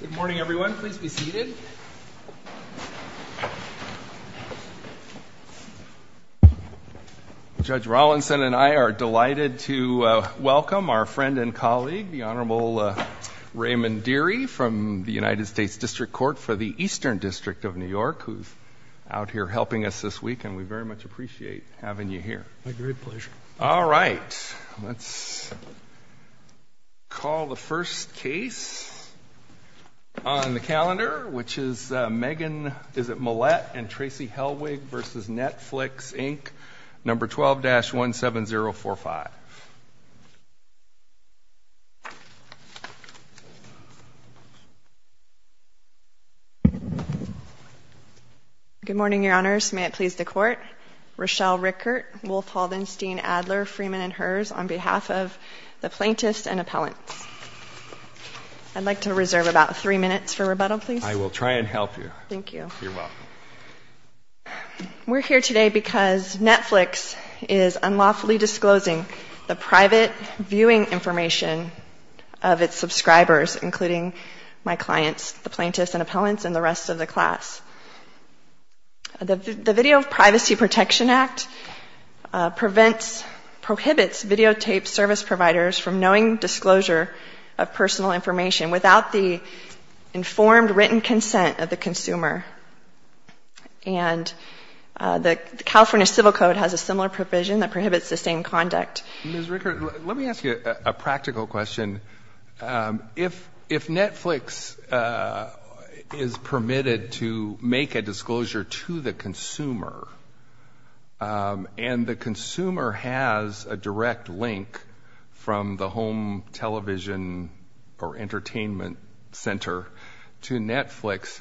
Good morning, everyone. Please be seated. Judge Rawlinson and I are delighted to welcome our friend and colleague, the Honorable Raymond Deary, from the United States District Court for the Eastern District of New York, who's out here helping us this week, and we very much appreciate having you here. My great pleasure. All right. Let's call the first case on the calendar, which is Mollett v. Netflix, Inc., No. 12-17045. Good morning, Your Honors. May it please the Court. Rochelle Rickert, Wolf Haldenstein, Adler, Freeman, and Herz, on behalf of the plaintiffs and appellants. I'd like to reserve about three minutes for rebuttal, please. I will try and help you. Thank you. You're welcome. We're here today because Netflix is unlawfully disclosing the private viewing information of its subscribers, including my clients, the plaintiffs and appellants, and the rest of the class. The Video Privacy Protection Act prohibits videotaped service providers from knowing disclosure of personal information without the informed written consent of the consumer, and the California Civil Code has a similar provision that prohibits the same conduct. Ms. Rickert, let me ask you a practical question. If Netflix is permitted to make a disclosure to the consumer, and the consumer has a direct link from the home television or entertainment center to Netflix,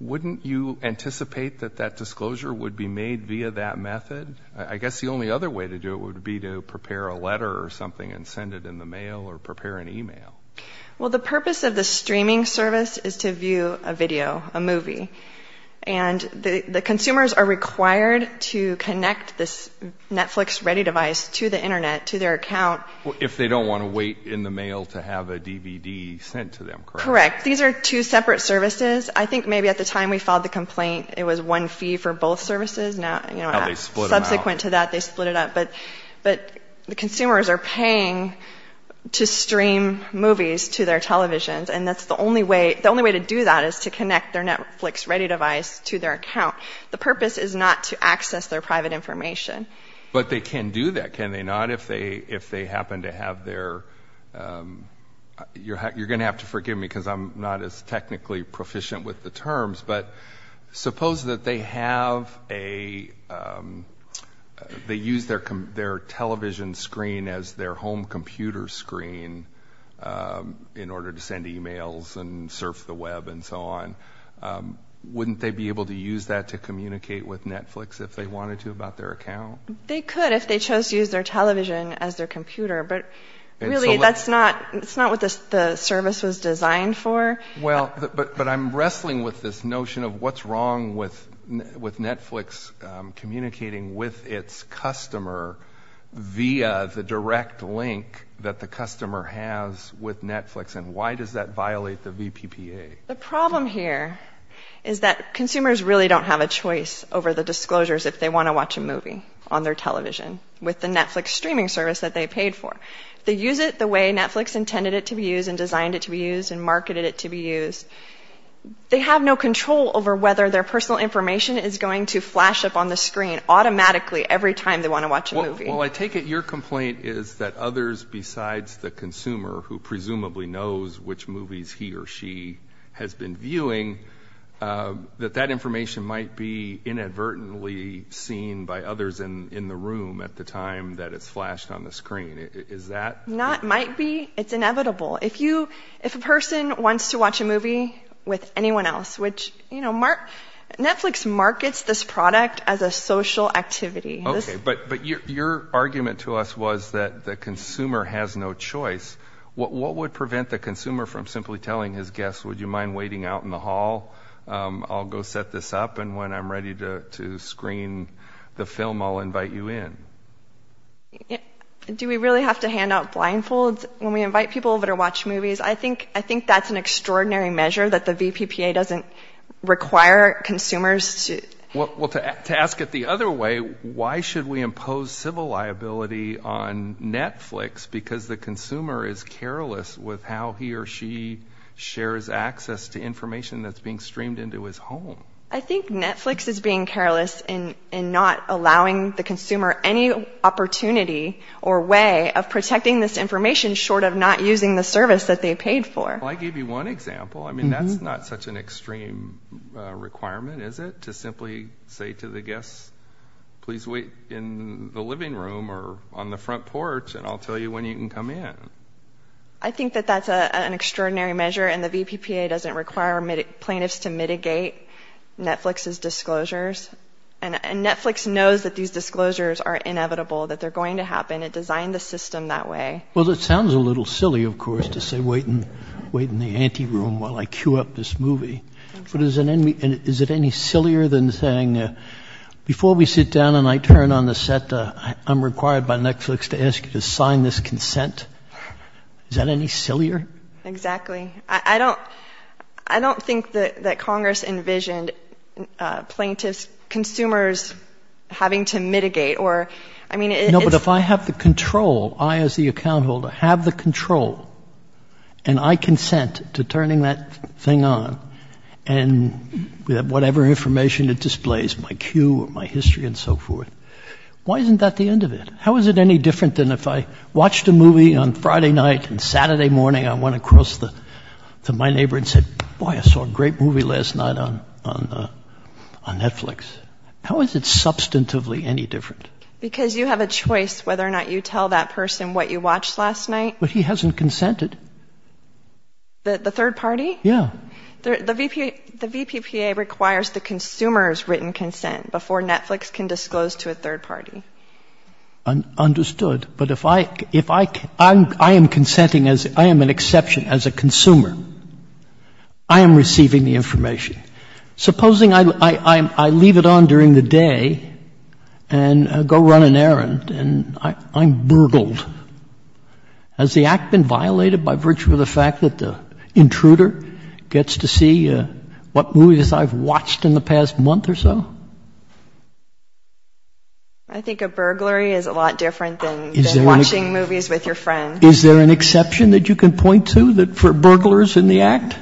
wouldn't you anticipate that that disclosure would be made via that method? I guess the only other way to do it would be to prepare a letter or something and send it in the mail or prepare an email. Well, the purpose of the streaming service is to view a video, a movie, and the consumers are required to connect this Netflix-ready device to the Internet, to their account. If they don't want to wait in the mail to have a DVD sent to them, correct? Correct. These are two separate services. I think maybe at the time we filed the complaint it was one fee for both services. Subsequent to that, they split it up. But the consumers are paying to stream movies to their televisions, and the only way to do that is to connect their Netflix-ready device to their account. The purpose is not to access their private information. But they can do that, can they not, if they happen to have their— you're going to have to forgive me because I'm not as technically proficient with the terms, but suppose that they have a—they use their television screen as their home computer screen in order to send emails and surf the web and so on. Wouldn't they be able to use that to communicate with Netflix if they wanted to about their account? They could if they chose to use their television as their computer, but really that's not what the service was designed for. Well, but I'm wrestling with this notion of what's wrong with Netflix communicating with its customer via the direct link that the customer has with Netflix, and why does that violate the VPPA? The problem here is that consumers really don't have a choice over the disclosures if they want to watch a movie on their television with the Netflix streaming service that they paid for. They use it the way Netflix intended it to be used and designed it to be used and marketed it to be used. They have no control over whether their personal information is going to flash up on the screen automatically every time they want to watch a movie. Well, I take it your complaint is that others besides the consumer, who presumably knows which movies he or she has been viewing, that that information might be inadvertently seen by others in the room at the time that it's flashed on the screen. Is that...? It might be. It's inevitable. If a person wants to watch a movie with anyone else, which, you know, Netflix markets this product as a social activity. Okay, but your argument to us was that the consumer has no choice. What would prevent the consumer from simply telling his guests, Would you mind waiting out in the hall? I'll go set this up, and when I'm ready to screen the film, I'll invite you in. Do we really have to hand out blindfolds when we invite people over to watch movies? I think that's an extraordinary measure that the VPPA doesn't require consumers to... Well, to ask it the other way, why should we impose civil liability on Netflix because the consumer is careless with how he or she shares access to information that's being streamed into his home? I think Netflix is being careless in not allowing the consumer any opportunity or way of protecting this information short of not using the service that they paid for. Well, I gave you one example. I mean, that's not such an extreme requirement, is it, to simply say to the guests, Please wait in the living room or on the front porch, and I'll tell you when you can come in. I think that that's an extraordinary measure, and the VPPA doesn't require plaintiffs to mitigate Netflix's disclosures. And Netflix knows that these disclosures are inevitable, that they're going to happen. It designed the system that way. Well, it sounds a little silly, of course, to say, Wait in the ante room while I cue up this movie. But is it any sillier than saying, Before we sit down and I turn on the set, I'm required by Netflix to ask you to sign this consent? Is that any sillier? Exactly. I don't think that Congress envisioned plaintiffs, consumers having to mitigate. No, but if I have the control, I as the account holder have the control, and I consent to turning that thing on, and whatever information it displays, my cue or my history and so forth, why isn't that the end of it? How is it any different than if I watched a movie on Friday night and Saturday morning, I went across to my neighbor and said, Boy, I saw a great movie last night on Netflix. How is it substantively any different? Because you have a choice whether or not you tell that person what you watched last night. But he hasn't consented. The third party? Yeah. The VPPA requires the consumer's written consent before Netflix can disclose to a third party. Understood. But if I am consenting, I am an exception as a consumer. I am receiving the information. Supposing I leave it on during the day and go run an errand, and I'm burgled. Has the act been violated by virtue of the fact that the intruder gets to see what movies I've watched in the past month or so? I think a burglary is a lot different than watching movies with your friend. Is there an exception that you can point to for burglars in the act?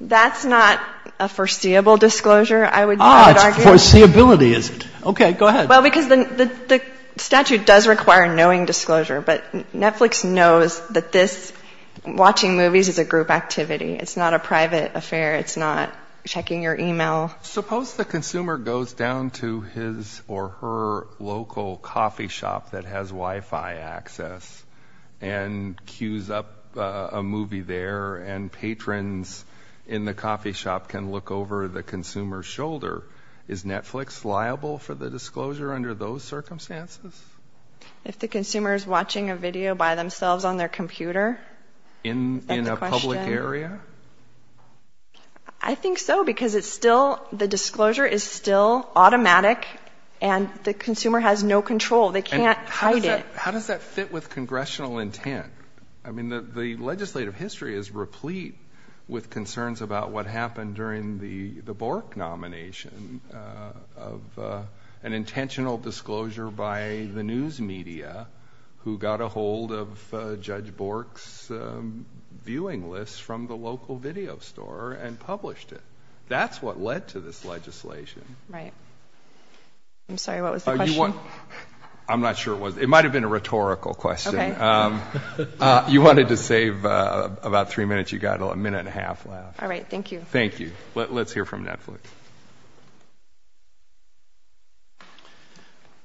That's not a foreseeable disclosure, I would argue. Ah, it's foreseeability, is it? Okay, go ahead. Well, because the statute does require knowing disclosure, but Netflix knows that this, watching movies, is a group activity. It's not a private affair. It's not checking your email. Suppose the consumer goes down to his or her local coffee shop that has Wi-Fi access and queues up a movie there, and patrons in the coffee shop can look over the consumer's shoulder. Is Netflix liable for the disclosure under those circumstances? If the consumer is watching a video by themselves on their computer? In a public area? I think so, because the disclosure is still automatic, and the consumer has no control. They can't hide it. How does that fit with congressional intent? I mean, the legislative history is replete with concerns about what happened during the Bork nomination of an intentional disclosure by the news media who got a hold of Judge Bork's viewing list from the local video store and published it. That's what led to this legislation. Right. I'm sorry, what was the question? I'm not sure it was. It might have been a rhetorical question. Okay. You wanted to save about three minutes. You've got a minute and a half left. All right. Thank you. Thank you. Let's hear from Netflix.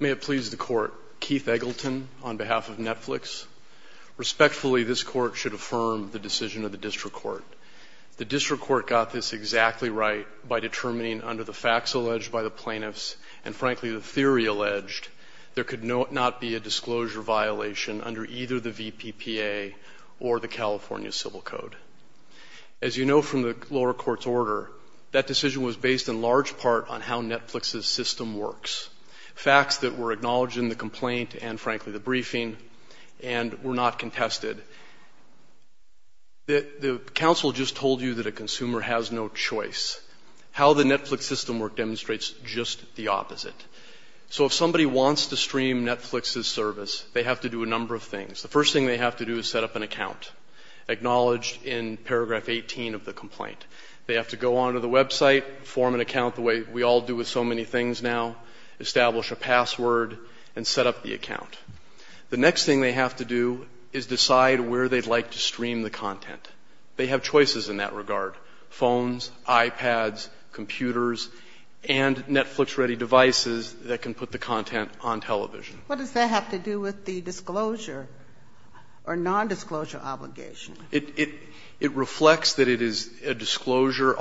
May it please the Court. Keith Eggleton on behalf of Netflix. Respectfully, this Court should affirm the decision of the district court. The district court got this exactly right by determining under the facts alleged by the plaintiffs and, frankly, the theory alleged, there could not be a disclosure violation under either the VPPA or the California Civil Code. As you know from the lower court's order, that decision was based in large part on how Netflix's system works, facts that were acknowledged in the complaint and, frankly, the briefing, and were not contested. The counsel just told you that a consumer has no choice. How the Netflix system works demonstrates just the opposite. So if somebody wants to stream Netflix's service, they have to do a number of things. The first thing they have to do is set up an account, acknowledged in paragraph 18 of the complaint. They have to go onto the website, form an account the way we all do with so many things now, establish a password, and set up the account. The next thing they have to do is decide where they'd like to stream the content. They have choices in that regard, phones, iPads, computers, and Netflix-ready devices that can put the content on television. What does that have to do with the disclosure or nondisclosure obligation? It reflects that it is a disclosure.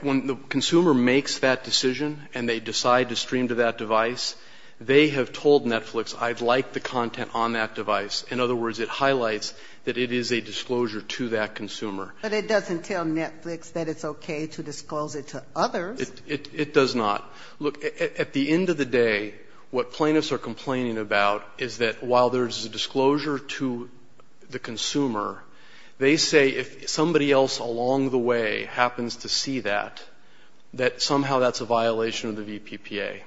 When the consumer makes that decision and they decide to stream to that device, they have told Netflix, I'd like the content on that device. In other words, it highlights that it is a disclosure to that consumer. But it doesn't tell Netflix that it's okay to disclose it to others. It does not. Look, at the end of the day, what plaintiffs are complaining about is that while there's a disclosure to the consumer, they say if somebody else along the way happens to see that, that somehow that's a violation of the VPPA.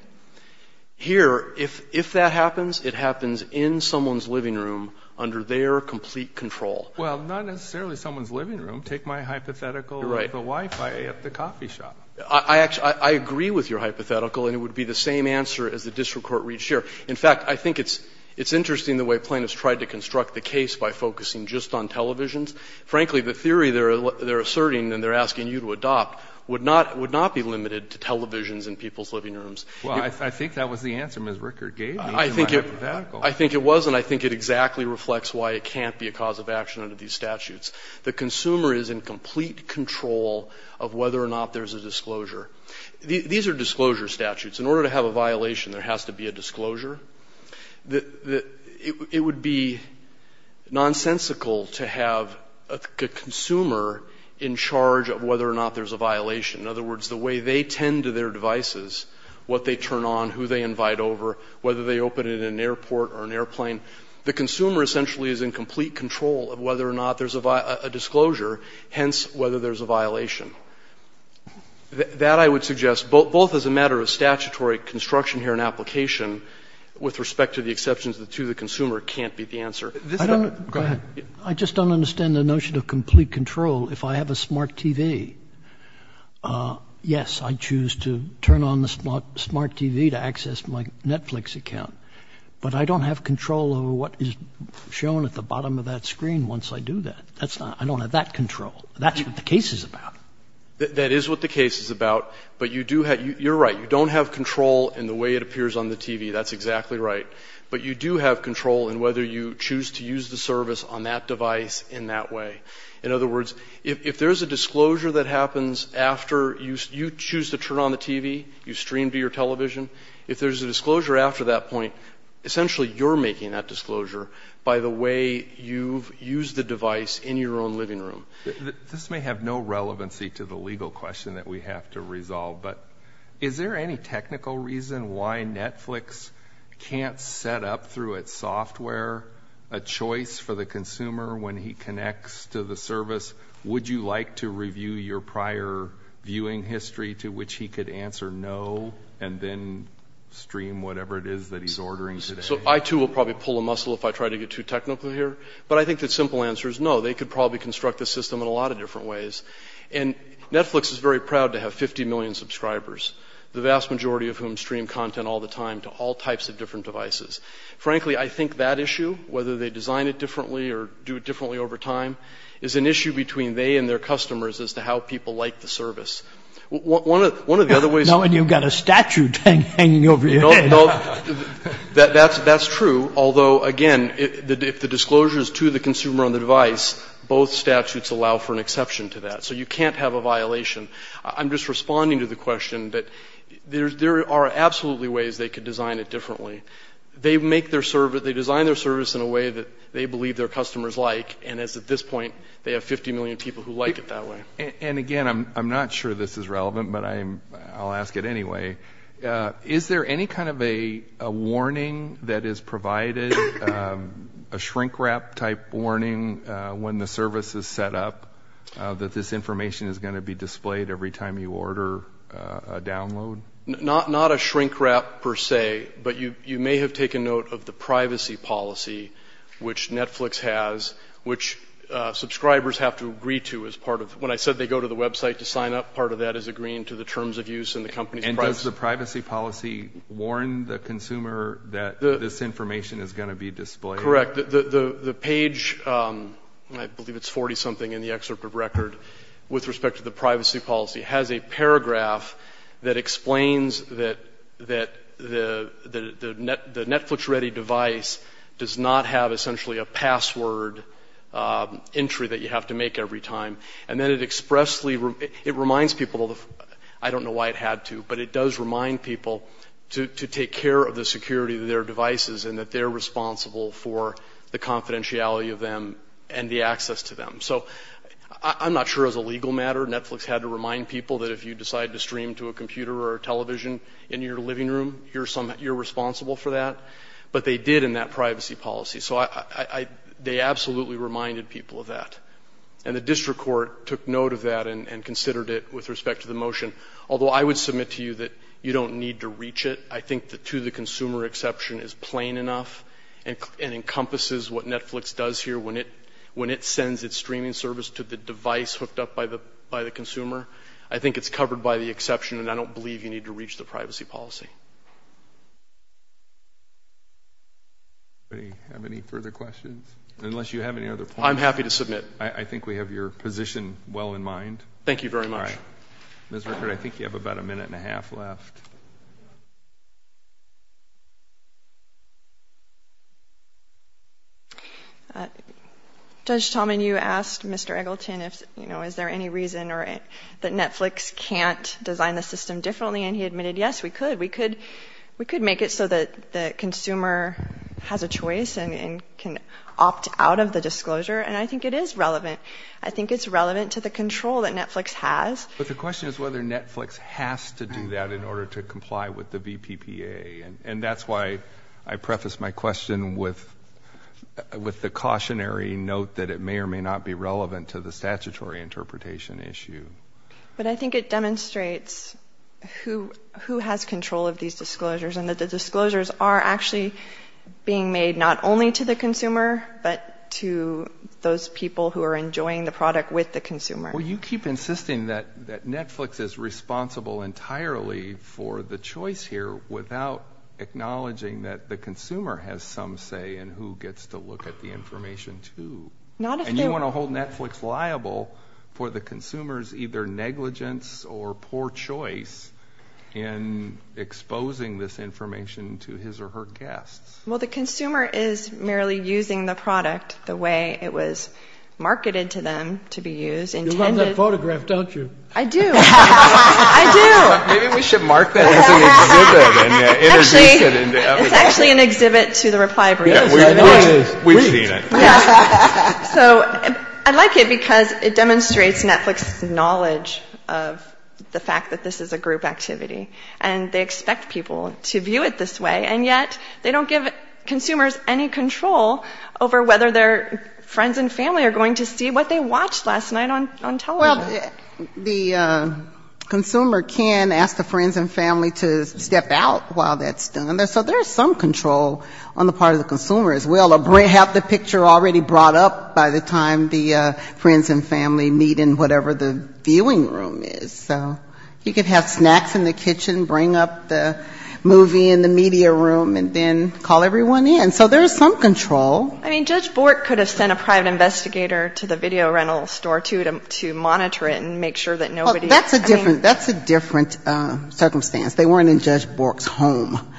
Here, if that happens, it happens in someone's living room under their complete control. Well, not necessarily someone's living room. Take my hypothetical with the Wi-Fi at the coffee shop. I agree with your hypothetical, and it would be the same answer as the district court reached here. In fact, I think it's interesting the way plaintiffs tried to construct the case by focusing just on televisions. Frankly, the theory they're asserting and they're asking you to adopt would not be limited to televisions in people's living rooms. Well, I think that was the answer Ms. Rickard gave me in my hypothetical. I think it was, and I think it exactly reflects why it can't be a cause of action under these statutes. The consumer is in complete control of whether or not there's a disclosure. These are disclosure statutes. In order to have a violation, there has to be a disclosure. It would be nonsensical to have a consumer in charge of whether or not there's a violation. In other words, the way they tend to their devices, what they turn on, who they invite over, whether they open it in an airport or an airplane, the consumer essentially is in complete control of whether or not there's a disclosure, hence whether there's a violation. That I would suggest, both as a matter of statutory construction here and application, with respect to the exceptions to the consumer, can't be the answer. Go ahead. I just don't understand the notion of complete control. If I have a smart TV, yes, I choose to turn on the smart TV to access my Netflix account. But I don't have control over what is shown at the bottom of that screen once I do that. I don't have that control. That's what the case is about. That is what the case is about. But you do have you're right. You don't have control in the way it appears on the TV. That's exactly right. But you do have control in whether you choose to use the service on that device in that way. In other words, if there's a disclosure that happens after you choose to turn on the TV, you stream to your television, if there's a disclosure after that point, essentially you're making that disclosure by the way you've used the device in your own living room. This may have no relevancy to the legal question that we have to resolve, but is there any technical reason why Netflix can't set up through its software a choice for the consumer when he connects to the service? Would you like to review your prior viewing history to which he could answer no and then stream whatever it is that he's ordering today? So I, too, will probably pull a muscle if I try to get too technical here. But I think the simple answer is no. They could probably construct the system in a lot of different ways. And Netflix is very proud to have 50 million subscribers, the vast majority of whom stream content all the time to all types of different devices. Frankly, I think that issue, whether they design it differently or do it differently over time, is an issue between they and their customers as to how people like the service. One of the other ways of the way... And you've got a statute hanging over your head. That's true. Although, again, if the disclosure is to the consumer on the device, both statutes allow for an exception to that. So you can't have a violation. I'm just responding to the question that there are absolutely ways they could design it differently. They design their service in a way that they believe their customers like, and it's at this point they have 50 million people who like it that way. And, again, I'm not sure this is relevant, but I'll ask it anyway. Is there any kind of a warning that is provided, a shrink wrap type warning, when the service is set up that this information is going to be displayed every time you order a download? Not a shrink wrap per se, but you may have taken note of the privacy policy which Netflix has, which subscribers have to agree to as part of... When I said they go to the website to sign up, part of that is agreeing to the terms of use and the company's privacy. And does the privacy policy warn the consumer that this information is going to be displayed? Correct. The page, I believe it's 40-something in the excerpt of record, with respect to the privacy policy has a paragraph that explains that the Netflix-ready device does not have essentially a password entry that you have to make every time. And then it expressly, it reminds people, I don't know why it had to, but it does remind people to take care of the security of their devices and that they're responsible for the confidentiality of them and the access to them. So I'm not sure as a legal matter Netflix had to remind people that if you decide to stream to a computer or a television in your living room, you're responsible for that. But they did in that privacy policy. So they absolutely reminded people of that. And the district court took note of that and considered it with respect to the motion. Although I would submit to you that you don't need to reach it. I think the to-the-consumer exception is plain enough and encompasses what Netflix does here when it sends its streaming service to the device hooked up by the consumer. I think it's covered by the exception, and I don't believe you need to reach the privacy policy. Anybody have any further questions? Unless you have any other points. I'm happy to submit. I think we have your position well in mind. Thank you very much. All right. Ms. Rickard, I think you have about a minute and a half left. Judge Tallman, you asked Mr. Eggleton is there any reason that Netflix can't design the system differently, and he admitted, yes, we could. We could make it so that the consumer has a choice and can opt out of the disclosure, and I think it is relevant. I think it's relevant to the control that Netflix has. But the question is whether Netflix has to do that in order to comply with the VPPA, and that's why I prefaced my question with the cautionary note that it may or may not be relevant to the statutory interpretation issue. But I think it demonstrates who has control of these disclosures and that the disclosures are actually being made not only to the consumer, but to those people who are enjoying the product with the consumer. Well, you keep insisting that Netflix is responsible entirely for the choice here without acknowledging that the consumer has some say in who gets to look at the information, too. And you want to hold Netflix liable for the consumer's either negligence or poor choice in exposing this information to his or her guests. Well, the consumer is merely using the product the way it was marketed to them to be used. You love that photograph, don't you? I do. I do. Maybe we should mark that as an exhibit and introduce it. It's actually an exhibit to the reply brief. We've seen it. So I like it because it demonstrates Netflix's knowledge of the fact that this is a group activity. And they expect people to view it this way, and yet they don't give consumers any control over whether their friends and family are going to see what they watched last night on television. Well, the consumer can ask the friends and family to step out while that's done. So there's some control on the part of the consumer as well. Have the picture already brought up by the time the friends and family meet in whatever the viewing room is. So you could have snacks in the kitchen, bring up the movie in the media room, and then call everyone in. So there's some control. I mean, Judge Bork could have sent a private investigator to the video rental store, too, to monitor it and make sure that nobody That's a different circumstance. They weren't in Judge Bork's home.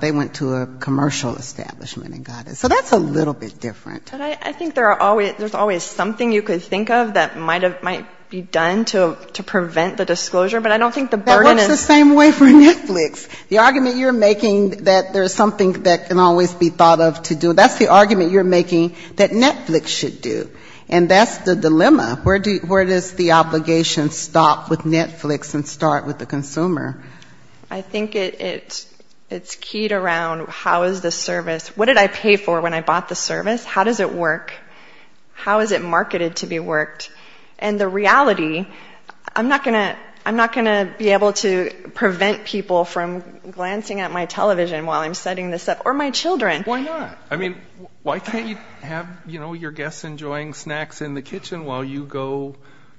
They went to a commercial establishment and got it. So that's a little bit different. But I think there's always something you could think of that might be done to prevent the disclosure, but I don't think the That works the same way for Netflix. The argument you're making that there's something that can always be thought of to do, that's the argument you're making that Netflix should do. And that's the dilemma. Where does the obligation stop with Netflix and start with the consumer? I think it's keyed around how is the service, what did I pay for when I bought the service? How does it work? How is it marketed to be worked? And the reality, I'm not going to be able to prevent people from glancing at my television while I'm setting this up. Or my children. Why not? Why can't you have your guests enjoying snacks in the kitchen while you go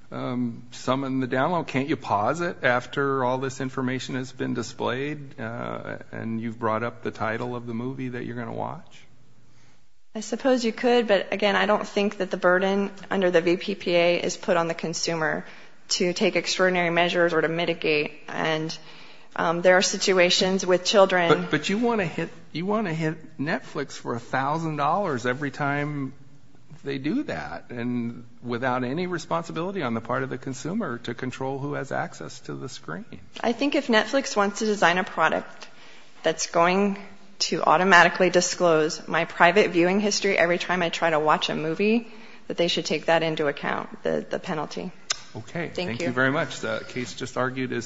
summon the download? Can't you pause it after all this information has been displayed and you've brought up the title of the movie that you're going to watch? I suppose you could, but again, I don't think that the burden under the VPPA is put on the consumer to take extraordinary measures or to mitigate. And there are situations with children But you want to hit Netflix for $1,000 every time they do that and without any responsibility on the part of the consumer to control who has access to the screen. I think if Netflix wants to design a product that's going to automatically disclose my private viewing history every time I try to watch a movie, that they should take that into account, the penalty. Okay, thank you very much. The case just argued is submitted.